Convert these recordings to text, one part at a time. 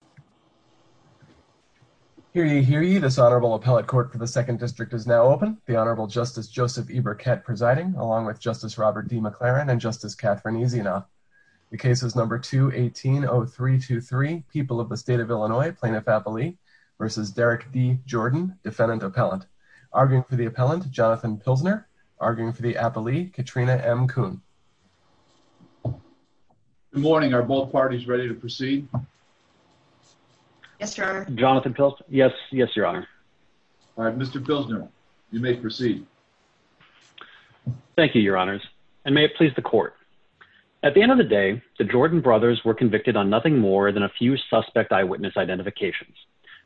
and Jonathan Pilsner, arguing for the appellee, Katrina M. Kuhn. Good morning. Are both parties ready to proceed? Yes, Your Honor. Jonathan Pilsner? Yes. Yes, Your Honor. All right. Mr. Pilsner, you may proceed. Thank you, Your Honors, and may it please the court. At the end of the day, the Jordan brothers were convicted on nothing more than a few suspect eyewitness identifications.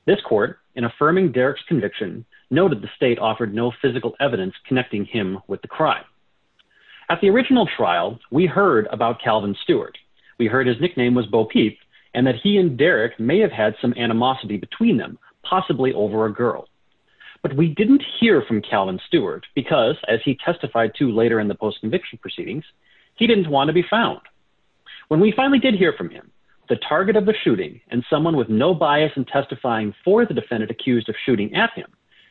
This court, in affirming Derrick's conviction, noted the state offered no physical evidence connecting him with the crime. At the original trial, we heard about Calvin Stewart. We heard his nickname was Bo Peep, and that he and Derrick may have had some animosity between them, possibly over a girl. But we didn't hear from Calvin Stewart because, as he testified to later in the post-conviction proceedings, he didn't want to be found. When we finally did hear from him, the target of the shooting, and someone with no bias in testifying for the defendant accused of shooting at him,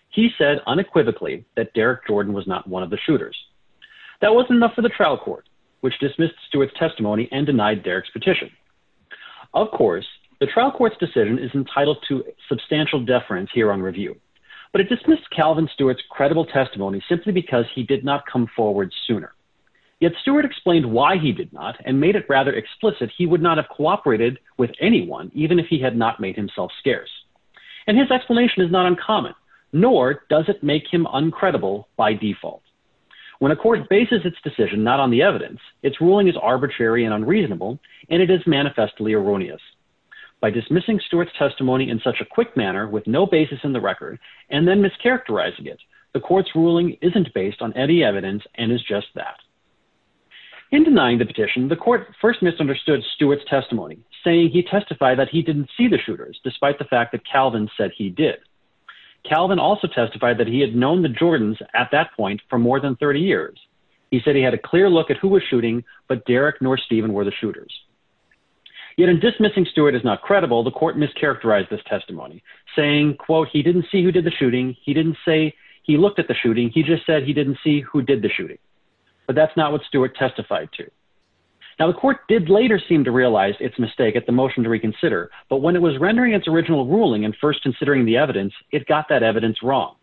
he said unequivocally that Derrick Jordan was not one of the shooters. That wasn't enough for the trial court, which dismissed Stewart's testimony and denied Derrick's petition. Of course, the trial court's decision is entitled to substantial deference here on review. But it dismissed Calvin Stewart's credible testimony simply because he did not come forward sooner. Yet Stewart explained why he did not, and made it rather explicit he would not have cooperated with anyone, even if he had not made himself scarce. And his explanation is not uncommon, nor does it make him uncredible by default. When a court bases its decision not on the evidence, its ruling is arbitrary and unreasonable, and it is manifestly erroneous. By dismissing Stewart's testimony in such a quick manner, with no basis in the record, and then mischaracterizing it, the court's ruling isn't based on any evidence and is just that. In denying the petition, the court first misunderstood Stewart's testimony, saying he testified that he didn't see the shooters, despite the fact that Calvin said he did. Calvin also testified that he had known the Jordans at that point for more than 30 years. He said he had a clear look at who was shooting, but Derrick nor Steven were the shooters. Yet in dismissing Stewart as not credible, the court mischaracterized this testimony, saying, quote, He didn't see who did the shooting. He didn't say he looked at the shooting. He just said he didn't see who did the shooting. But that's not what Stewart testified to. Now, the court did later seem to realize its mistake at the motion to reconsider. But when it was rendering its original ruling and first considering the evidence, it got that evidence wrong.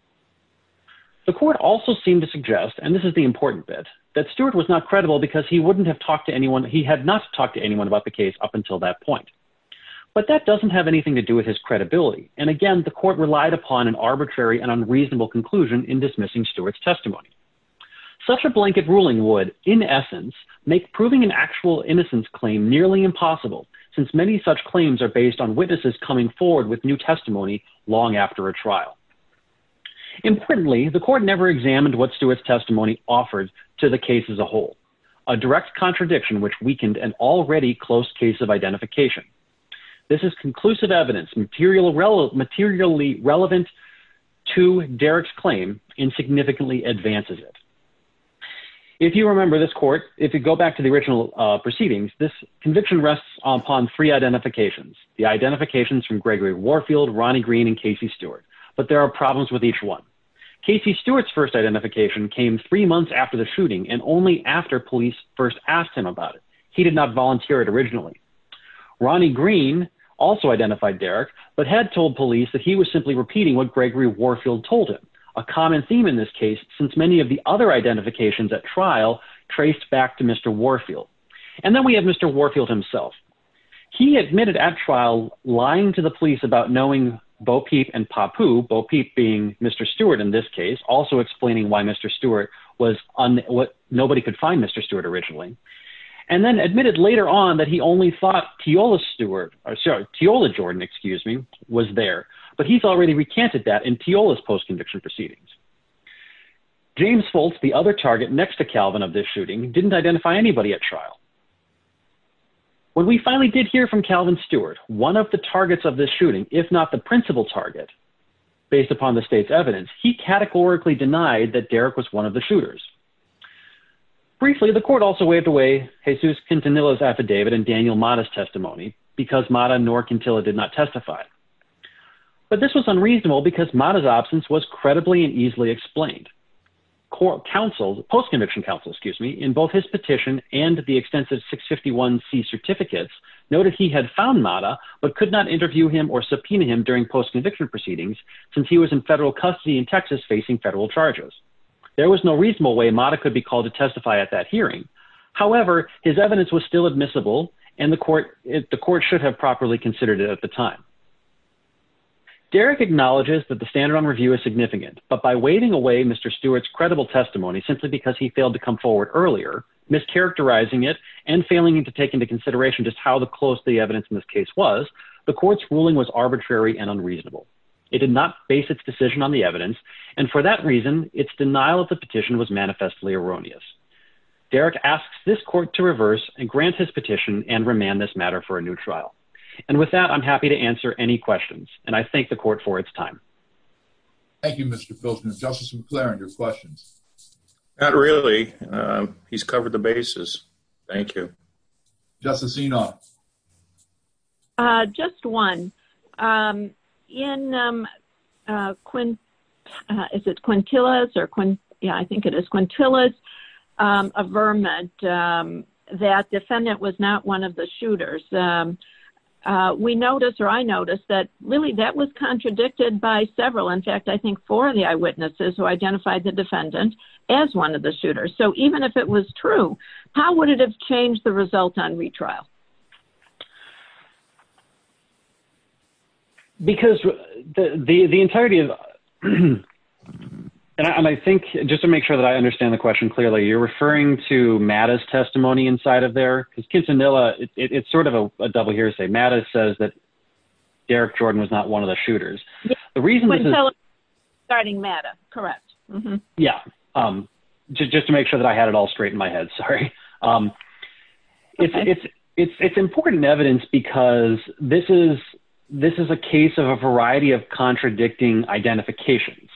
The court also seemed to suggest, and this is the important bit, that Stewart was not credible because he wouldn't have talked to anyone. He had not talked to anyone about the case up until that point. But that doesn't have anything to do with his credibility. And again, the court relied upon an arbitrary and unreasonable conclusion in dismissing Stewart's testimony. Such a blanket ruling would, in essence, make proving an actual innocence claim nearly impossible, since many such claims are based on witnesses coming forward with new testimony long after a trial. Importantly, the court never examined what Stewart's testimony offered to the case as a whole, a direct contradiction which weakened an already close case of identification. This is conclusive evidence materially relevant to Derrick's claim and significantly advances it. If you remember this court, if you go back to the original proceedings, this conviction rests upon three identifications, the identifications from Gregory Warfield, Ronnie Green, and Casey Stewart. But there are problems with each one. Casey Stewart's first identification came three months after the shooting and only after police first asked him about it. He did not volunteer it originally. Ronnie Green also identified Derrick, but had told police that he was simply repeating what Gregory Warfield told him, a common theme in this case since many of the other identifications at trial traced back to Mr. Warfield. And then we have Mr. Warfield himself. He admitted at trial lying to the police about knowing Bo Peep and Papu, Bo Peep being Mr. Stewart in this case, also explaining why Mr. Stewart was what nobody could find Mr. Stewart originally, and then admitted later on that he only thought Teola Jordan was there, but he's already recanted that in Teola's post-conviction proceedings. James Foltz, the other target next to Calvin of this shooting, didn't identify anybody at trial. When we finally did hear from Calvin Stewart, one of the targets of this shooting, if not the principal target, based upon the state's evidence, he categorically denied that Derrick was one of the shooters. Briefly, the court also waived away Jesus Quintanilla's affidavit and Daniel Mata's testimony, because Mata nor Quintilla did not testify. But this was unreasonable because Mata's absence was credibly and easily explained. Post-conviction counsel, excuse me, in both his petition and the extensive 651C certificates, noted he had found Mata but could not interview him or subpoena him during post-conviction proceedings since he was in federal custody in Texas facing federal charges. There was no reasonable way Mata could be called to testify at that hearing. However, his evidence was still admissible, and the court should have properly considered it at the time. Derrick acknowledges that the standard on review is significant, but by waiving away Mr. Stewart's credible testimony simply because he failed to come forward earlier, mischaracterizing it, and failing to take into consideration just how close the evidence in this case was, the court's ruling was arbitrary and unreasonable. It did not base its decision on the evidence, and for that reason, its denial of the petition was manifestly erroneous. Derrick asks this court to reverse and grant his petition and remand this matter for a new trial. And with that, I'm happy to answer any questions, and I thank the court for its time. Thank you, Mr. Pilson. Justice McClaren, your questions? Not really. He's covered the bases. Thank you. Justice Enoch? Just one. In Quintilla's affirmment that defendant was not one of the shooters, we noticed, or I noticed, that really that was contradicted by several, in fact, I think four of the eyewitnesses who identified the defendant as one of the shooters. So even if it was true, how would it have changed the result on retrial? Because the entirety of, and I think, just to make sure that I understand the question clearly, you're referring to Matta's testimony inside of there? Because Quintilla, it's sort of a double hearsay. Matta says that Derrick Jordan was not one of the shooters. The reason this is. Starting Matta, correct. Yeah. Just to make sure that I had it all straight in my head, sorry. It's important evidence because this is a case of a variety of contradicting identifications.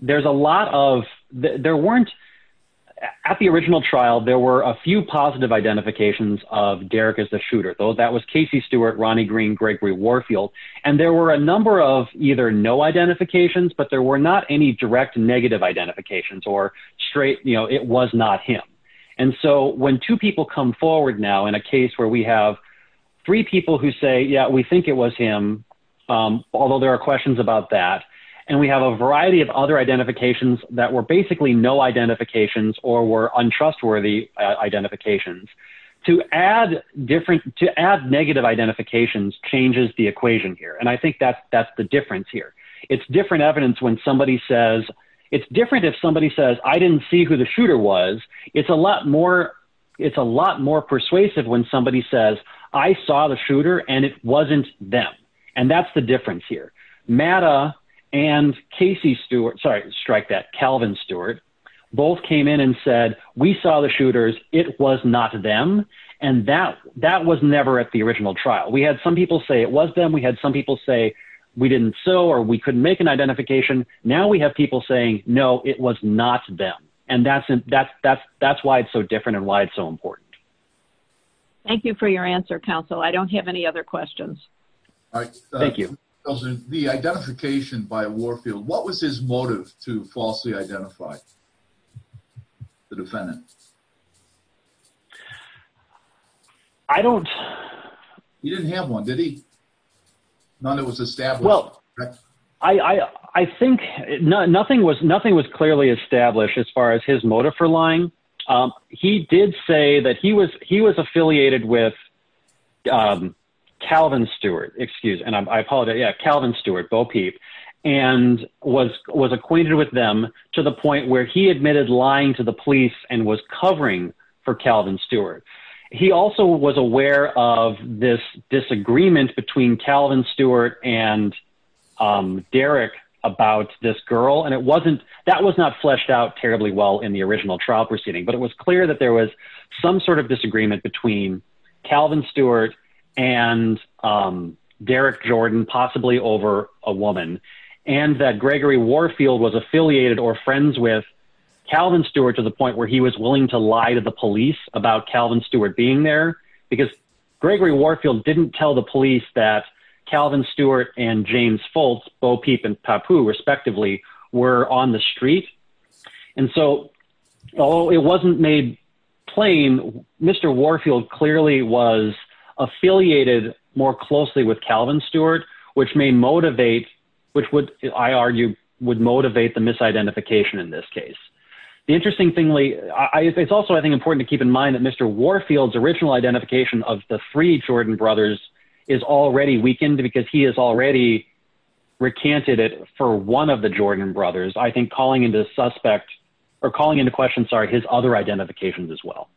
There's a lot of, there weren't, at the original trial, there were a few positive identifications of Derrick as the shooter. That was Casey Stewart, Ronnie Green, Gregory Warfield. And there were a number of either no identifications, but there were not any direct negative identifications or straight, you know, it was not him. And so when two people come forward now in a case where we have three people who say, yeah, we think it was him. Although there are questions about that. And we have a variety of other identifications that were basically no identifications or were untrustworthy identifications. To add different, to add negative identifications changes the equation here. And I think that's, that's the difference here. It's different evidence when somebody says it's different. If somebody says, I didn't see who the shooter was. It's a lot more. It's a lot more persuasive when somebody says I saw the shooter and it wasn't them. And that's the difference here. And Casey Stewart, sorry, strike that Calvin Stewart both came in and said, we saw the shooters. It was not them. And that that was never at the original trial. We had some people say it was them. We had some people say we didn't. So, or we couldn't make an identification. Now we have people saying, no, it was not them. And that's, that's, that's, that's why it's so different and why it's so important. Thank you for your answer, counsel. I don't have any other questions. Thank you. The identification by Warfield. What was his motive to falsely identify the defendant? I don't. You didn't have one, did he? None that was established. Well, I, I, I think nothing was nothing was clearly established as far as his motive for lying. He did say that he was, he was affiliated with Calvin Stewart, excuse. And I apologize. Calvin Stewart, Bo Peep and was, was acquainted with them to the point where he admitted lying to the police and was covering for Calvin Stewart. He also was aware of this disagreement between Calvin Stewart and Derek about this girl. And it wasn't, that was not fleshed out terribly well in the original trial proceeding, but it was clear that there was some sort of disagreement between Calvin Stewart and Derek Jordan, possibly over a woman. And that Gregory Warfield was affiliated or friends with Calvin Stewart to the point where he was willing to lie to the police about Calvin Stewart being there. Because Gregory Warfield didn't tell the police that Calvin Stewart and James Fultz, Bo Peep and Papu respectively were on the street. And so, although it wasn't made plain, Mr. Warfield clearly was affiliated more closely with Calvin Stewart, which may motivate, which would, I argue, would motivate the misidentification in this case. The interesting thing, Lee, I, it's also, I think, important to keep in mind that Mr. Warfield's original identification of the three Jordan brothers is already weakened because he has already recanted it for one of the Jordan brothers. I think calling into suspect or calling into question, sorry, his other identifications as well.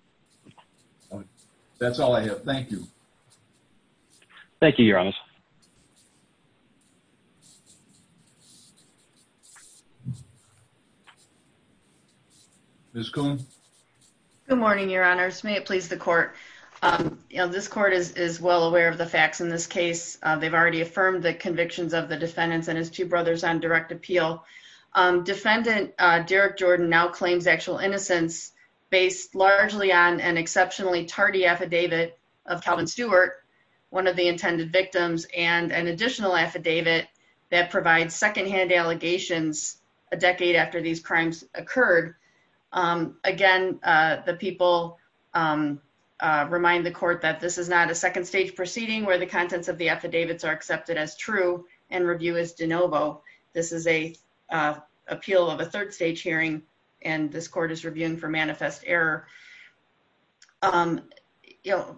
That's all I have. Thank you. Thank you, Your Honor. Ms. Cohen. Good morning, Your Honor. May it please the court. This court is well aware of the facts in this case. They've already affirmed the convictions of the defendants and his two brothers on direct appeal. Defendant Derek Jordan now claims actual innocence based largely on an exceptionally tardy affidavit of Calvin Stewart, one of the intended victims, and an additional affidavit that provides secondhand allegations a decade after these crimes occurred. Again, the people remind the court that this is not a second stage proceeding where the contents of the affidavits are accepted as true and review is de novo. This is a appeal of a third stage hearing, and this court is reviewing for manifest error.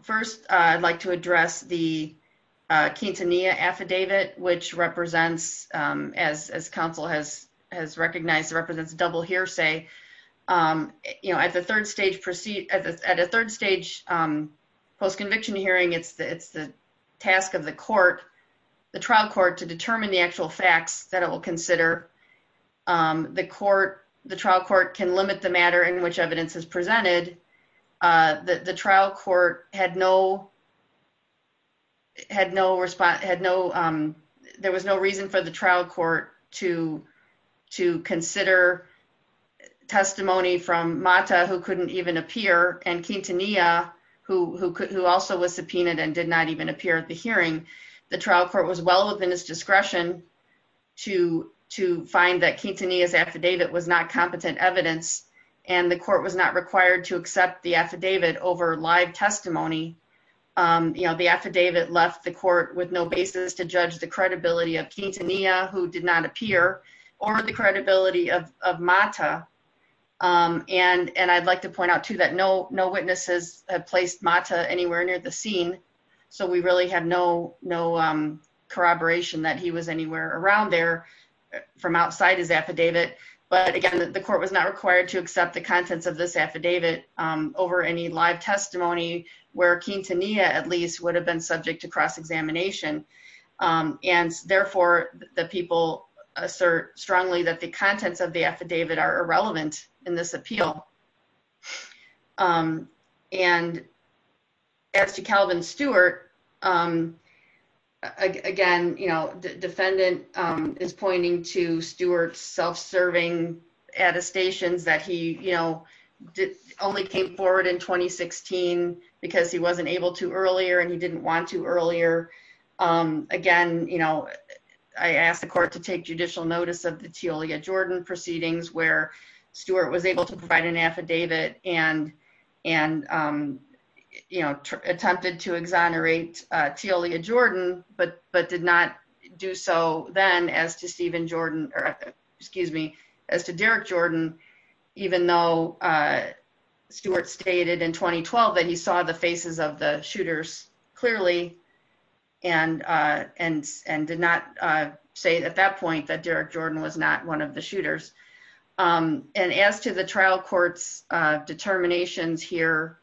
First, I'd like to address the Quintanilla affidavit, which represents, as counsel has recognized, represents double hearsay. You know, at the third stage post-conviction hearing, it's the task of the court, the trial court, to determine the actual facts that it will consider. The trial court can limit the matter in which evidence is presented. There was no reason for the trial court to consider testimony from Mata, who couldn't even appear, and Quintanilla, who also was subpoenaed and did not even appear at the hearing. The trial court was well within its discretion to find that Quintanilla's affidavit was not competent evidence, and the court was not required to accept the affidavit over live testimony. You know, the affidavit left the court with no basis to judge the credibility of Quintanilla, who did not appear, or the credibility of Mata. And I'd like to point out, too, that no witnesses have placed Mata anywhere near the scene, so we really have no corroboration that he was anywhere around there from outside his affidavit. But, again, the court was not required to accept the contents of this affidavit over any live testimony where Quintanilla, at least, would have been subject to cross-examination. And, therefore, the people assert strongly that the contents of the affidavit are irrelevant in this appeal. And as to Calvin Stewart, again, the defendant is pointing to Stewart's self-serving attestations that he only came forward in 2016 because he wasn't able to earlier and he didn't want to earlier. Again, you know, I asked the court to take judicial notice of the Teolia Jordan proceedings, where Stewart was able to provide an affidavit and, you know, attempted to exonerate Teolia Jordan, but did not do so then as to Stephen Jordan, or, excuse me, as to Derek Jordan, even though Stewart stated in 2012 that he saw the faces of the shooters clearly and did not say at that point that Derek Jordan was not one of the shooters. And as to the trial court's determinations here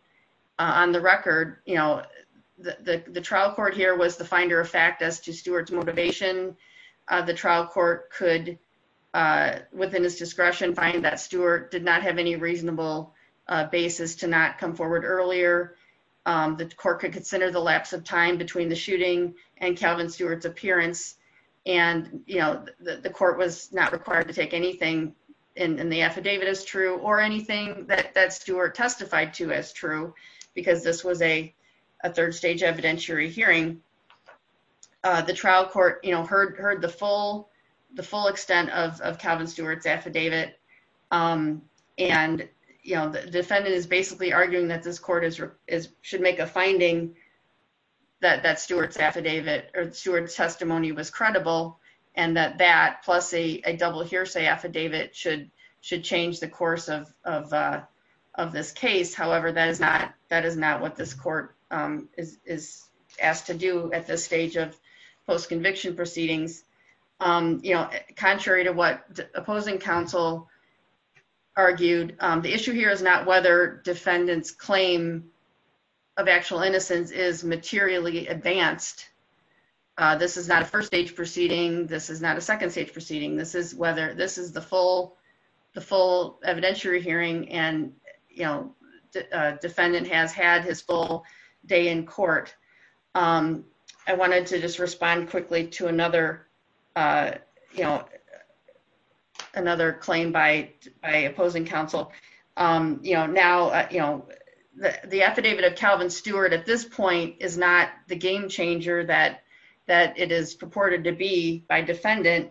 on the record, you know, the trial court here was the finder of fact as to Stewart's motivation. The trial court could, within its discretion, find that Stewart did not have any reasonable basis to not come forward earlier. The court could consider the lapse of time between the shooting and Calvin Stewart's appearance. And, you know, the court was not required to take anything in the affidavit as true or anything that Stewart testified to as true because this was a third stage evidentiary hearing. The trial court, you know, heard the full extent of Calvin Stewart's affidavit. And, you know, the defendant is basically arguing that this court should make a finding that Stewart's affidavit or Stewart's testimony was credible and that that, plus a double hearsay affidavit, should change the course of this case. However, that is not what this court is asked to do at this stage of post-conviction proceedings. You know, contrary to what opposing counsel argued, the issue here is not whether defendant's claim of actual innocence is materially advanced. This is not a first stage proceeding. This is not a second stage proceeding. This is whether this is the full evidentiary hearing and, you know, defendant has had his full day in court. I wanted to just respond quickly to another, you know, another claim by opposing counsel. You know, now, you know, the affidavit of Calvin Stewart at this point is not the game changer that it is purported to be by defendant.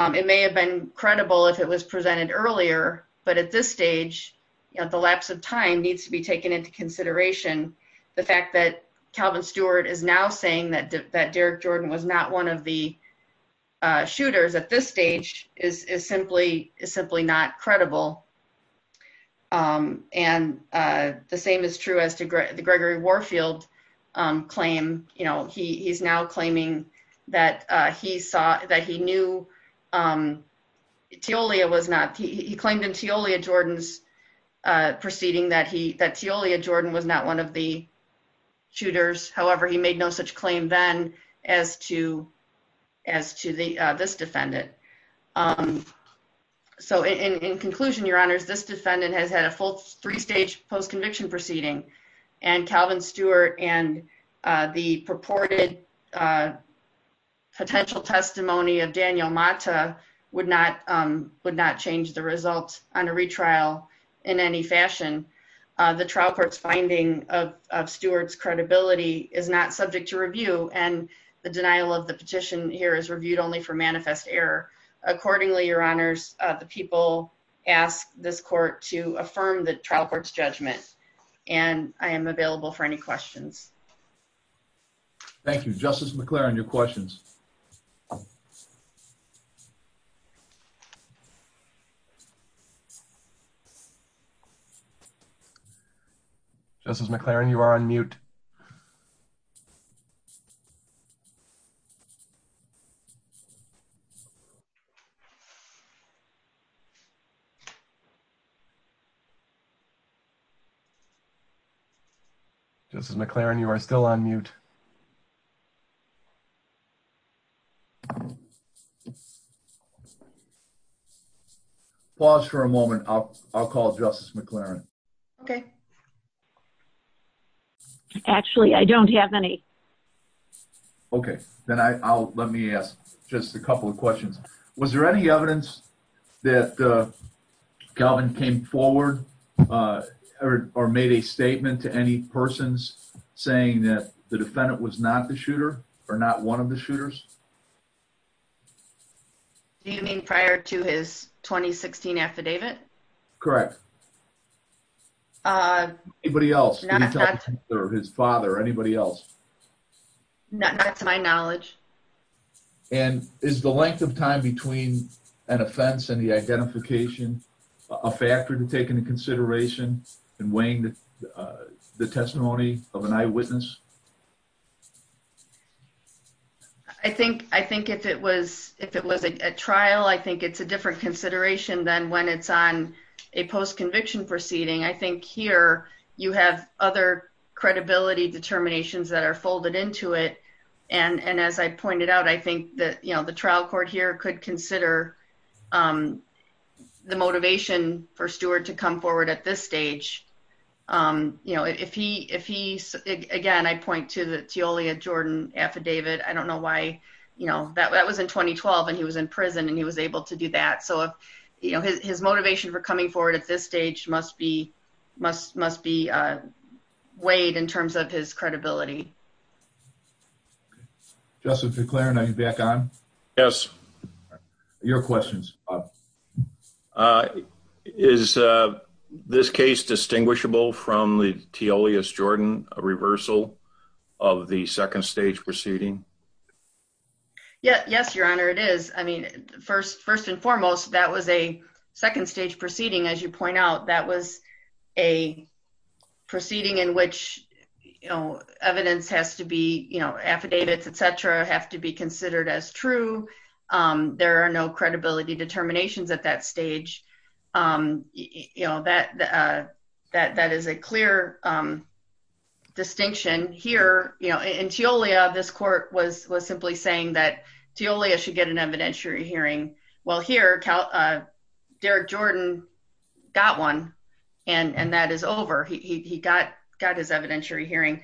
It may have been credible if it was presented earlier, but at this stage, at the lapse of time, needs to be taken into consideration. The fact that Calvin Stewart is now saying that Derek Jordan was not one of the shooters at this stage is simply not credible. And the same is true as to the Gregory Warfield claim. You know, he's now claiming that he saw that he knew Teolia was not, he claimed in Teolia Jordan's proceeding that he, that Teolia Jordan was not one of the shooters. However, he made no such claim then as to, as to this defendant. So in conclusion, your honors, this defendant has had a full three stage post conviction proceeding and Calvin Stewart and the purported Potential testimony of Daniel Mata would not would not change the results on a retrial in any fashion. The trial court's finding of Stewart's credibility is not subject to review and the denial of the petition here is reviewed only for manifest error. Accordingly, your honors, the people ask this court to affirm the trial court's judgment and I am available for any questions. Thank you, Justice McLaren, your questions. Justice McLaren, you are on mute. Justice McLaren, you are still on mute. Pause for a moment. I'll, I'll call justice McLaren. Okay. Actually, I don't have any Okay, then I'll let me ask just a couple of questions. Was there any evidence that Calvin came forward. Or made a statement to any persons saying that the defendant was not the shooter or not one of the shooters. You mean prior to his 2016 affidavit. Correct. Anybody else Or his father, anybody else. That's my knowledge. And is the length of time between an offense and the identification a factor to take into consideration and weighing The testimony of an eyewitness I think, I think if it was, if it was a trial. I think it's a different consideration than when it's on a post conviction proceeding. I think here you have other credibility determinations that are folded into it. And, and as I pointed out, I think that, you know, the trial court here could consider The motivation for Stuart to come forward at this stage. You know, if he if he's again I point to the to only a Jordan affidavit. I don't know why, you know, that was in 2012 and he was in prison and he was able to do that. So, you know, his motivation for coming forward at this stage must be must must be weighed in terms of his credibility. Justin declare and I'm back on. Yes. Your questions. I is this case distinguishable from the T Olius Jordan a reversal of the second stage proceeding. Yeah, yes, Your Honor. It is. I mean, first, first and foremost, that was a second stage proceeding. As you point out, that was a proceeding in which, you know, evidence has to be, you know, affidavits, etc. have to be considered as true. There are no credibility determinations at that stage. You know that that that is a clear Distinction here, you know, until we have this court was was simply saying that to only I should get an evidentiary hearing. Well here. Derek Jordan got one and and that is over. He got got his evidentiary hearing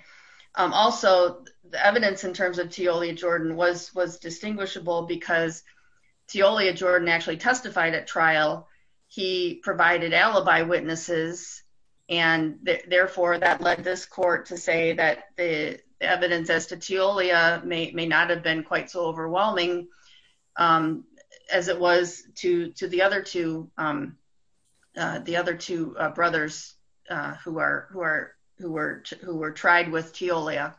also the evidence in terms of to only Jordan was was distinguishable because To only a Jordan actually testified at trial. He provided alibi witnesses and therefore that led this court to say that the evidence as to Julia may may not have been quite so overwhelming. As it was to to the other to The other two brothers who are who are who were who were tried with to Leah.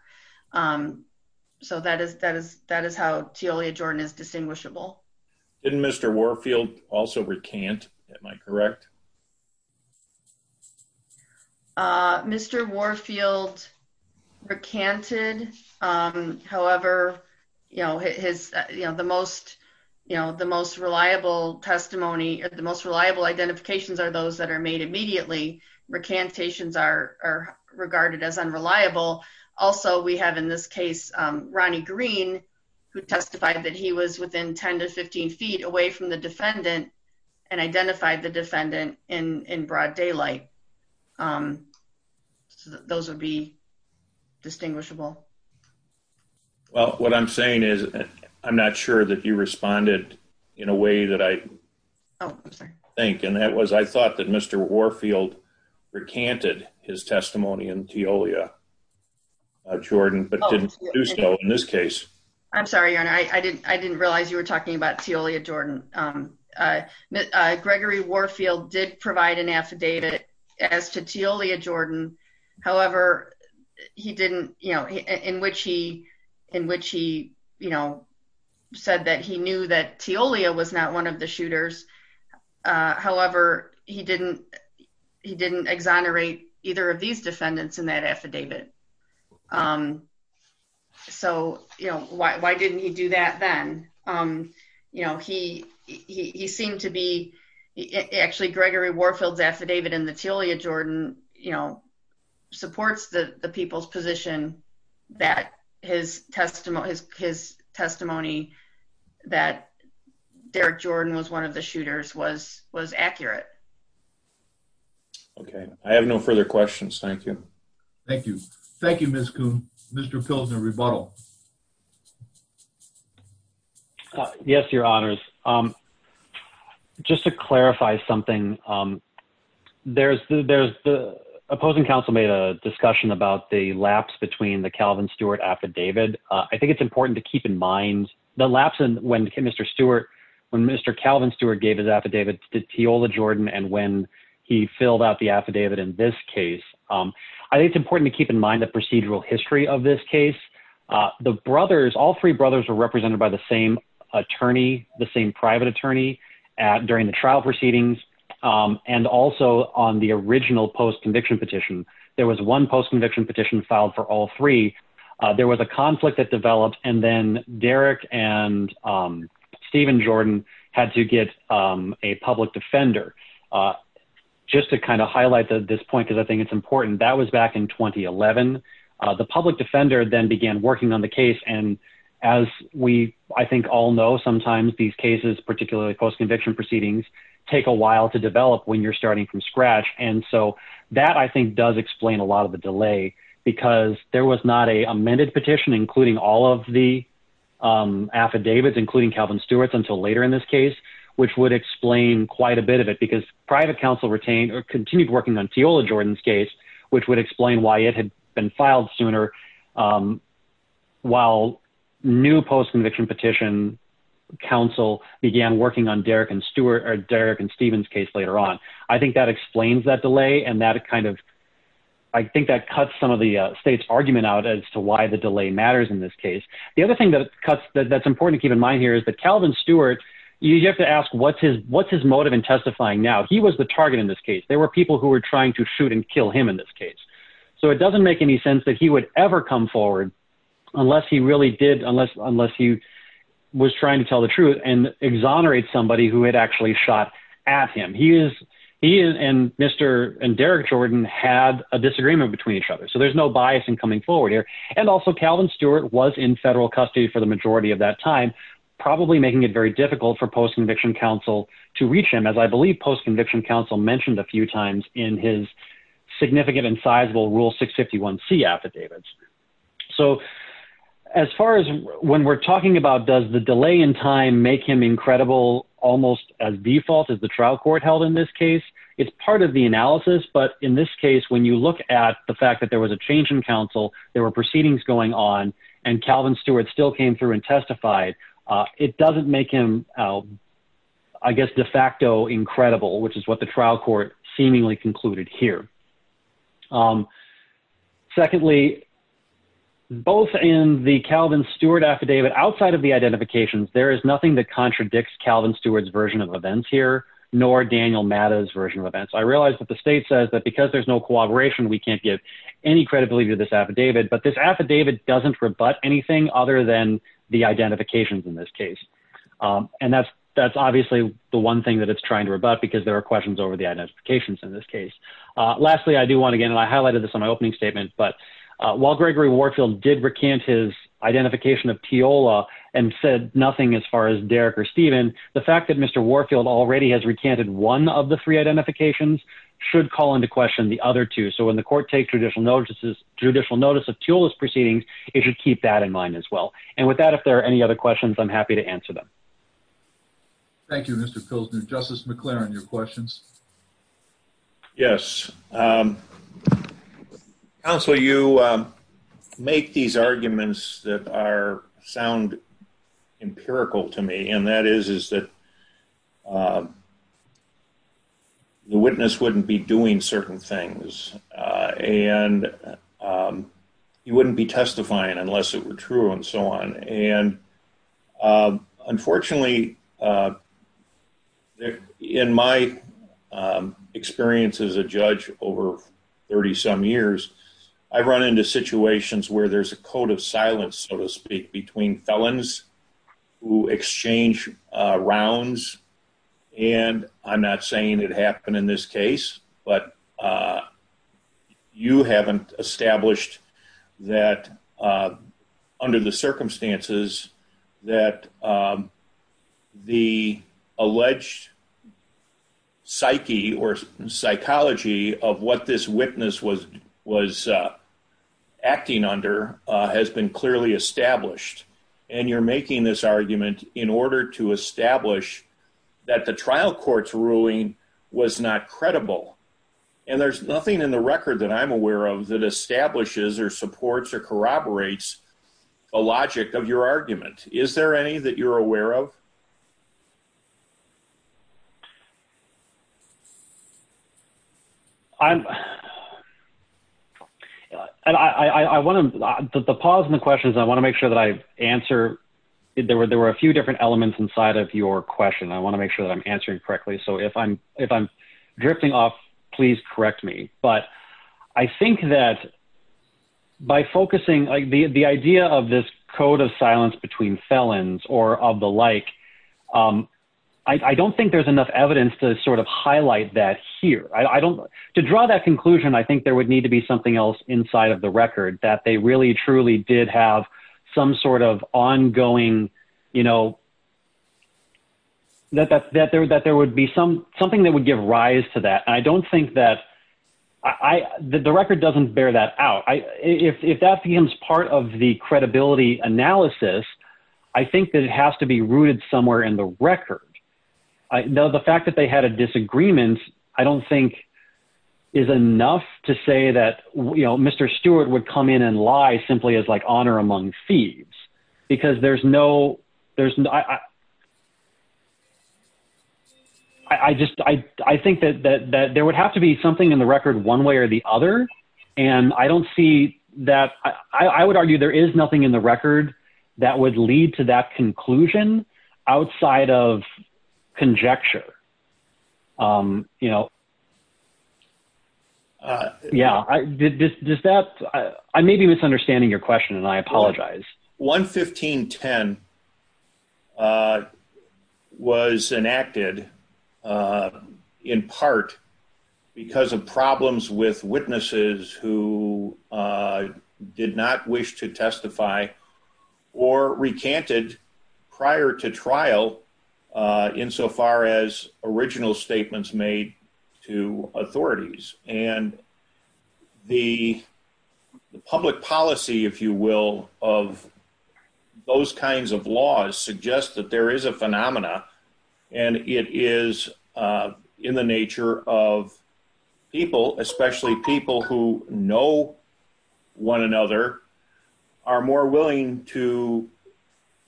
So that is, that is, that is how to only a Jordan is distinguishable In Mr. Warfield also recant. Am I correct Mr. Warfield recanted. However, you know, his, you know, the most, you know, the most reliable testimony or the most reliable identifications are those that are made immediately recantations are regarded as unreliable. Also, we have in this case, Ronnie Green Who testified that he was within 10 to 15 feet away from the defendant and identified the defendant in broad daylight. Those would be distinguishable Well, what I'm saying is, I'm not sure that you responded in a way that I Think, and that was, I thought that Mr. Warfield recanted his testimony and to Leah. Jordan, but didn't do so in this case. I'm sorry. And I didn't, I didn't realize you were talking about to Leah Jordan. Gregory Warfield did provide an affidavit as to to Leah Jordan. However, he didn't, you know, in which he in which he, you know, said that he knew that to Leah was not one of the shooters. However, he didn't, he didn't exonerate either of these defendants in that affidavit. So, you know, why, why didn't he do that, then, um, you know, he, he seemed to be actually Gregory Warfield's affidavit in the to Leah Jordan, you know, supports the people's position that his testimony is his testimony that Derek Jordan was one of the shooters was was accurate. Okay, I have no further questions. Thank you. Thank you. Thank you, Mr. Pillsbury bottle. Yes, Your Honors. Just to clarify something. There's, there's the opposing counsel made a discussion about the lapse between the Calvin Stewart affidavit. I think it's important to keep in mind the lapse and when Mr. Stewart. When Mr. Calvin Stewart gave his affidavit to Teola Jordan and when he filled out the affidavit. In this case, I think it's important to keep in mind the procedural history of this case. The brothers all three brothers were represented by the same attorney, the same private attorney at during the trial proceedings, and also on the original post conviction petition. There was one post conviction petition filed for all three. There was a conflict that developed and then Derek and Stephen Jordan had to get a public defender. Just to kind of highlight that this point because I think it's important that was back in 2011 The public defender then began working on the case. And as we, I think, all know, sometimes these cases, particularly post conviction proceedings. Take a while to develop when you're starting from scratch. And so that I think does explain a lot of the delay because there was not a amended petition, including all of the Affidavits, including Calvin Stewart's until later in this case, which would explain quite a bit of it because private counsel retained or continued working on Teola Jordan's case, which would explain why it had been filed sooner. While new post conviction petition counsel began working on Derek and Stewart or Derek and Stephen's case later on. I think that explains that delay and that kind of I think that cuts some of the state's argument out as to why the delay matters in this case. The other thing that cuts that that's important to keep in mind here is that Calvin Stewart You have to ask what's his what's his motive and testifying. Now he was the target in this case, there were people who were trying to shoot and kill him in this case. So it doesn't make any sense that he would ever come forward unless he really did unless unless he Was trying to tell the truth and exonerate somebody who had actually shot at him, he is He is and Mr. And Derek Jordan had a disagreement between each other. So there's no bias and coming forward here and also Calvin Stewart was in federal custody for the majority of that time. Probably making it very difficult for post conviction counsel to reach him as I believe post conviction counsel mentioned a few times in his Significant and sizable rule 651 C affidavits. So as far as when we're talking about does the delay in time make him incredible almost as default as the trial court held in this case. It's part of the analysis. But in this case, when you look at the fact that there was a change in counsel, there were proceedings going on and Calvin Stewart still came through and testified. It doesn't make him I guess de facto incredible, which is what the trial court seemingly concluded here. Secondly, both in the Calvin Stewart affidavit outside of the identifications. There is nothing that contradicts Calvin Stewart's version of events here, nor Daniel matters version of events. I realized that the state says that because there's no cooperation, we can't get Any credibility to this affidavit, but this affidavit doesn't rebut anything other than the identifications in this case. And that's, that's obviously the one thing that it's trying to rebut because there are questions over the identifications in this case. Lastly, I do want to get and I highlighted this on my opening statement, but While Gregory Warfield did recant his identification of Teola and said nothing as far as Derek or Steven, the fact that Mr. Warfield already has recanted one of the three identifications Should call into question the other two. So when the court take judicial notices judicial notice of tools proceedings, it should keep that in mind as well. And with that, if there are any other questions, I'm happy to answer them. Thank you, Mr. Justice McLaren your questions. Yes. Counsel, you make these arguments that are sound empirical to me. And that is, is that The witness wouldn't be doing certain things and You wouldn't be testifying unless it were true and so on. And Unfortunately, In my Experience as a judge over 30 some years I've run into situations where there's a code of silence, so to speak, between felons who exchange rounds and I'm not saying it happened in this case, but You haven't established that Under the circumstances that The alleged Psyche or psychology of what this witness was was Acting under has been clearly established and you're making this argument in order to establish that the trial courts ruling was not credible. And there's nothing in the record that I'm aware of that establishes or supports or corroborates a logic of your argument. Is there any that you're aware of I'm I want to the pause in the questions. I want to make sure that I answer it. There were there were a few different elements inside of your question. I want to make sure that I'm answering correctly. So if I'm if I'm drifting off. Please correct me, but I think that By focusing like the, the idea of this code of silence between felons or of the like I don't think there's enough evidence to sort of highlight that here. I don't to draw that conclusion. I think there would need to be something else inside of the record that they really truly did have some sort of ongoing, you know, That there that there would be some something that would give rise to that. I don't think that I the record doesn't bear that out if that becomes part of the credibility analysis. I think that it has to be rooted somewhere in the record. I know the fact that they had a disagreement. I don't think is enough to say that, you know, Mr. Stewart would come in and lie simply as like honor among thieves, because there's no there's I just, I think that that there would have to be something in the record, one way or the other. And I don't see that I would argue there is nothing in the record that would lead to that conclusion outside of conjecture. Um, you know, Yeah, I did this. Does that I may be misunderstanding your question. And I apologize. 115 10 Was enacted. In part because of problems with witnesses who did not wish to testify or recanted prior to trial in so far as original statements made to authorities and The public policy, if you will, of those kinds of laws suggest that there is a phenomena and it is in the nature of people, especially people who know one another. Are more willing to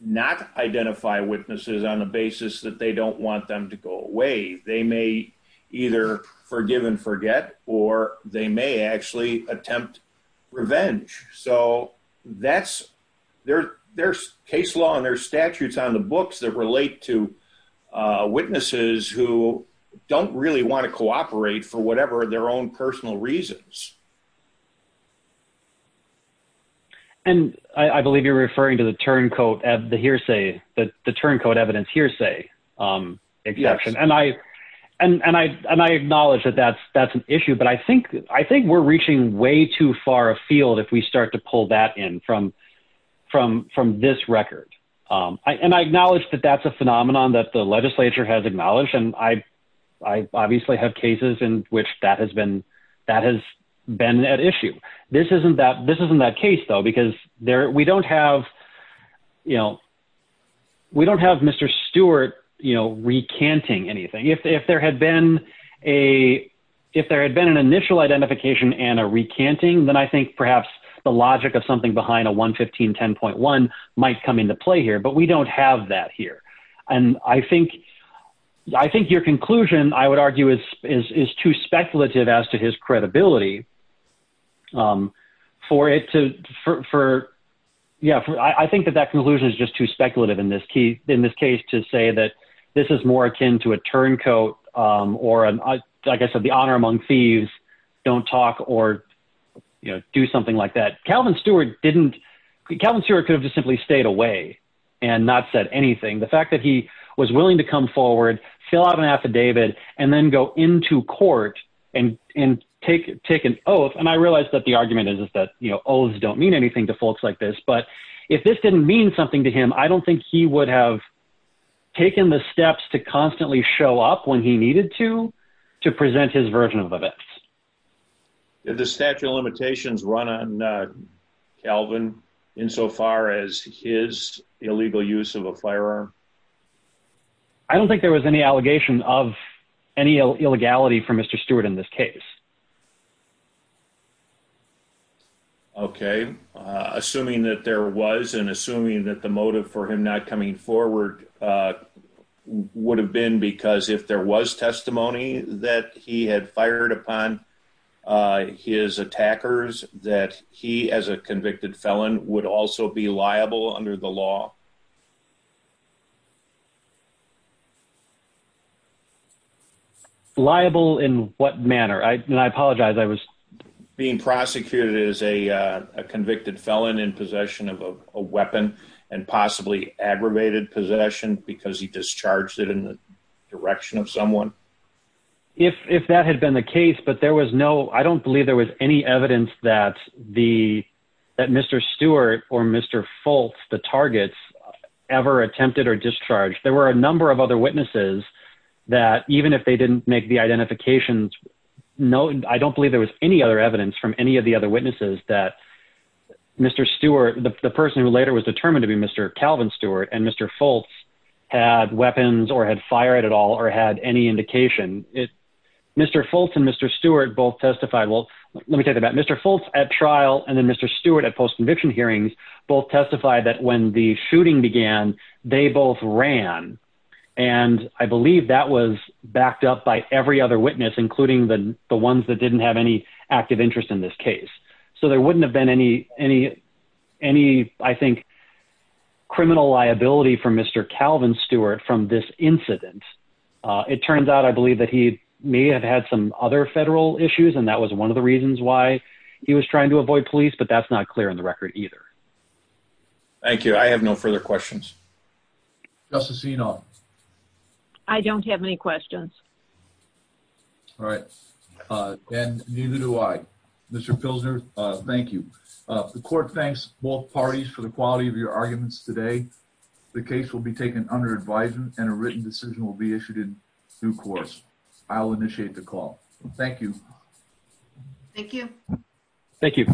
not identify witnesses on the basis that they don't want them to go away. They may either forgive and forget, or they may actually attempt revenge. So that's their, their case law and their statutes on the books that relate to witnesses who don't really want to cooperate for whatever their own personal reasons. And I believe you're referring to the turncoat of the hearsay that the turncoat evidence hearsay. Exception and I and I and I acknowledge that that's that's an issue, but I think, I think we're reaching way too far afield. If we start to pull that in from From from this record I and I acknowledge that that's a phenomenon that the legislature has acknowledged and I I obviously have cases in which that has been that has been at issue. This isn't that this isn't that case, though, because there we don't have, you know, We don't have Mr. Stewart, you know, recanting anything if there had been a if there had been an initial identification and a recanting, then I think perhaps the logic of something behind a 115 10.1 might come into play here, but we don't have that here and I think I think your conclusion, I would argue is is too speculative as to his credibility. For it to for. Yeah, I think that that conclusion is just too speculative in this key in this case to say that this is more akin to a turncoat Or, like I said, the honor among thieves don't talk or, you know, do something like that Calvin Stewart didn't Calvin Stewart could have just simply stayed away and not said anything. The fact that he was willing to come forward, fill out an affidavit and then go into court. And and take taken. Oh, and I realized that the argument is that, you know, always don't mean anything to folks like this. But if this didn't mean something to him. I don't think he would have taken the steps to constantly show up when he needed to to present his version of events. The statute of limitations run on Calvin in so far as his illegal use of a firearm. I don't think there was any allegation of any illegality for Mr. Stewart in this case. Okay, assuming that there was an assuming that the motive for him not coming forward. Would have been because if there was testimony that he had fired upon His attackers that he as a convicted felon would also be liable under the law. Liable in what manner. I apologize. I was being prosecuted as a convicted felon in possession of a weapon and possibly aggravated possession because he discharged it in the direction of someone If that had been the case, but there was no I don't believe there was any evidence that the that Mr. Stewart or Mr. Fultz the targets. Ever attempted or discharge. There were a number of other witnesses that even if they didn't make the identifications. No, I don't believe there was any other evidence from any of the other witnesses that Mr. Stewart, the person who later was determined to be Mr. Calvin Stewart and Mr. Fultz had weapons or had fired at all or had any indication it Mr. Fultz and Mr. Stewart both testified. Well, let me tell you about Mr. Fultz at trial and then Mr. Stewart at post conviction hearings both testified that when the shooting began, they both ran And I believe that was backed up by every other witness, including the ones that didn't have any active interest in this case. So there wouldn't have been any any any I think Criminal liability for Mr. Calvin Stewart from this incident. It turns out, I believe that he may have had some other federal issues. And that was one of the reasons why he was trying to avoid police, but that's not clear in the record either. Thank you. I have no further questions. Justice, you know, I don't have any questions. All right. And neither do I. Mr. Pilsner. Thank you. The court thanks both parties for the quality of your arguments today. The case will be taken under advisement and a written decision will be issued in due course. I'll initiate the call. Thank you. Thank you. Thank you.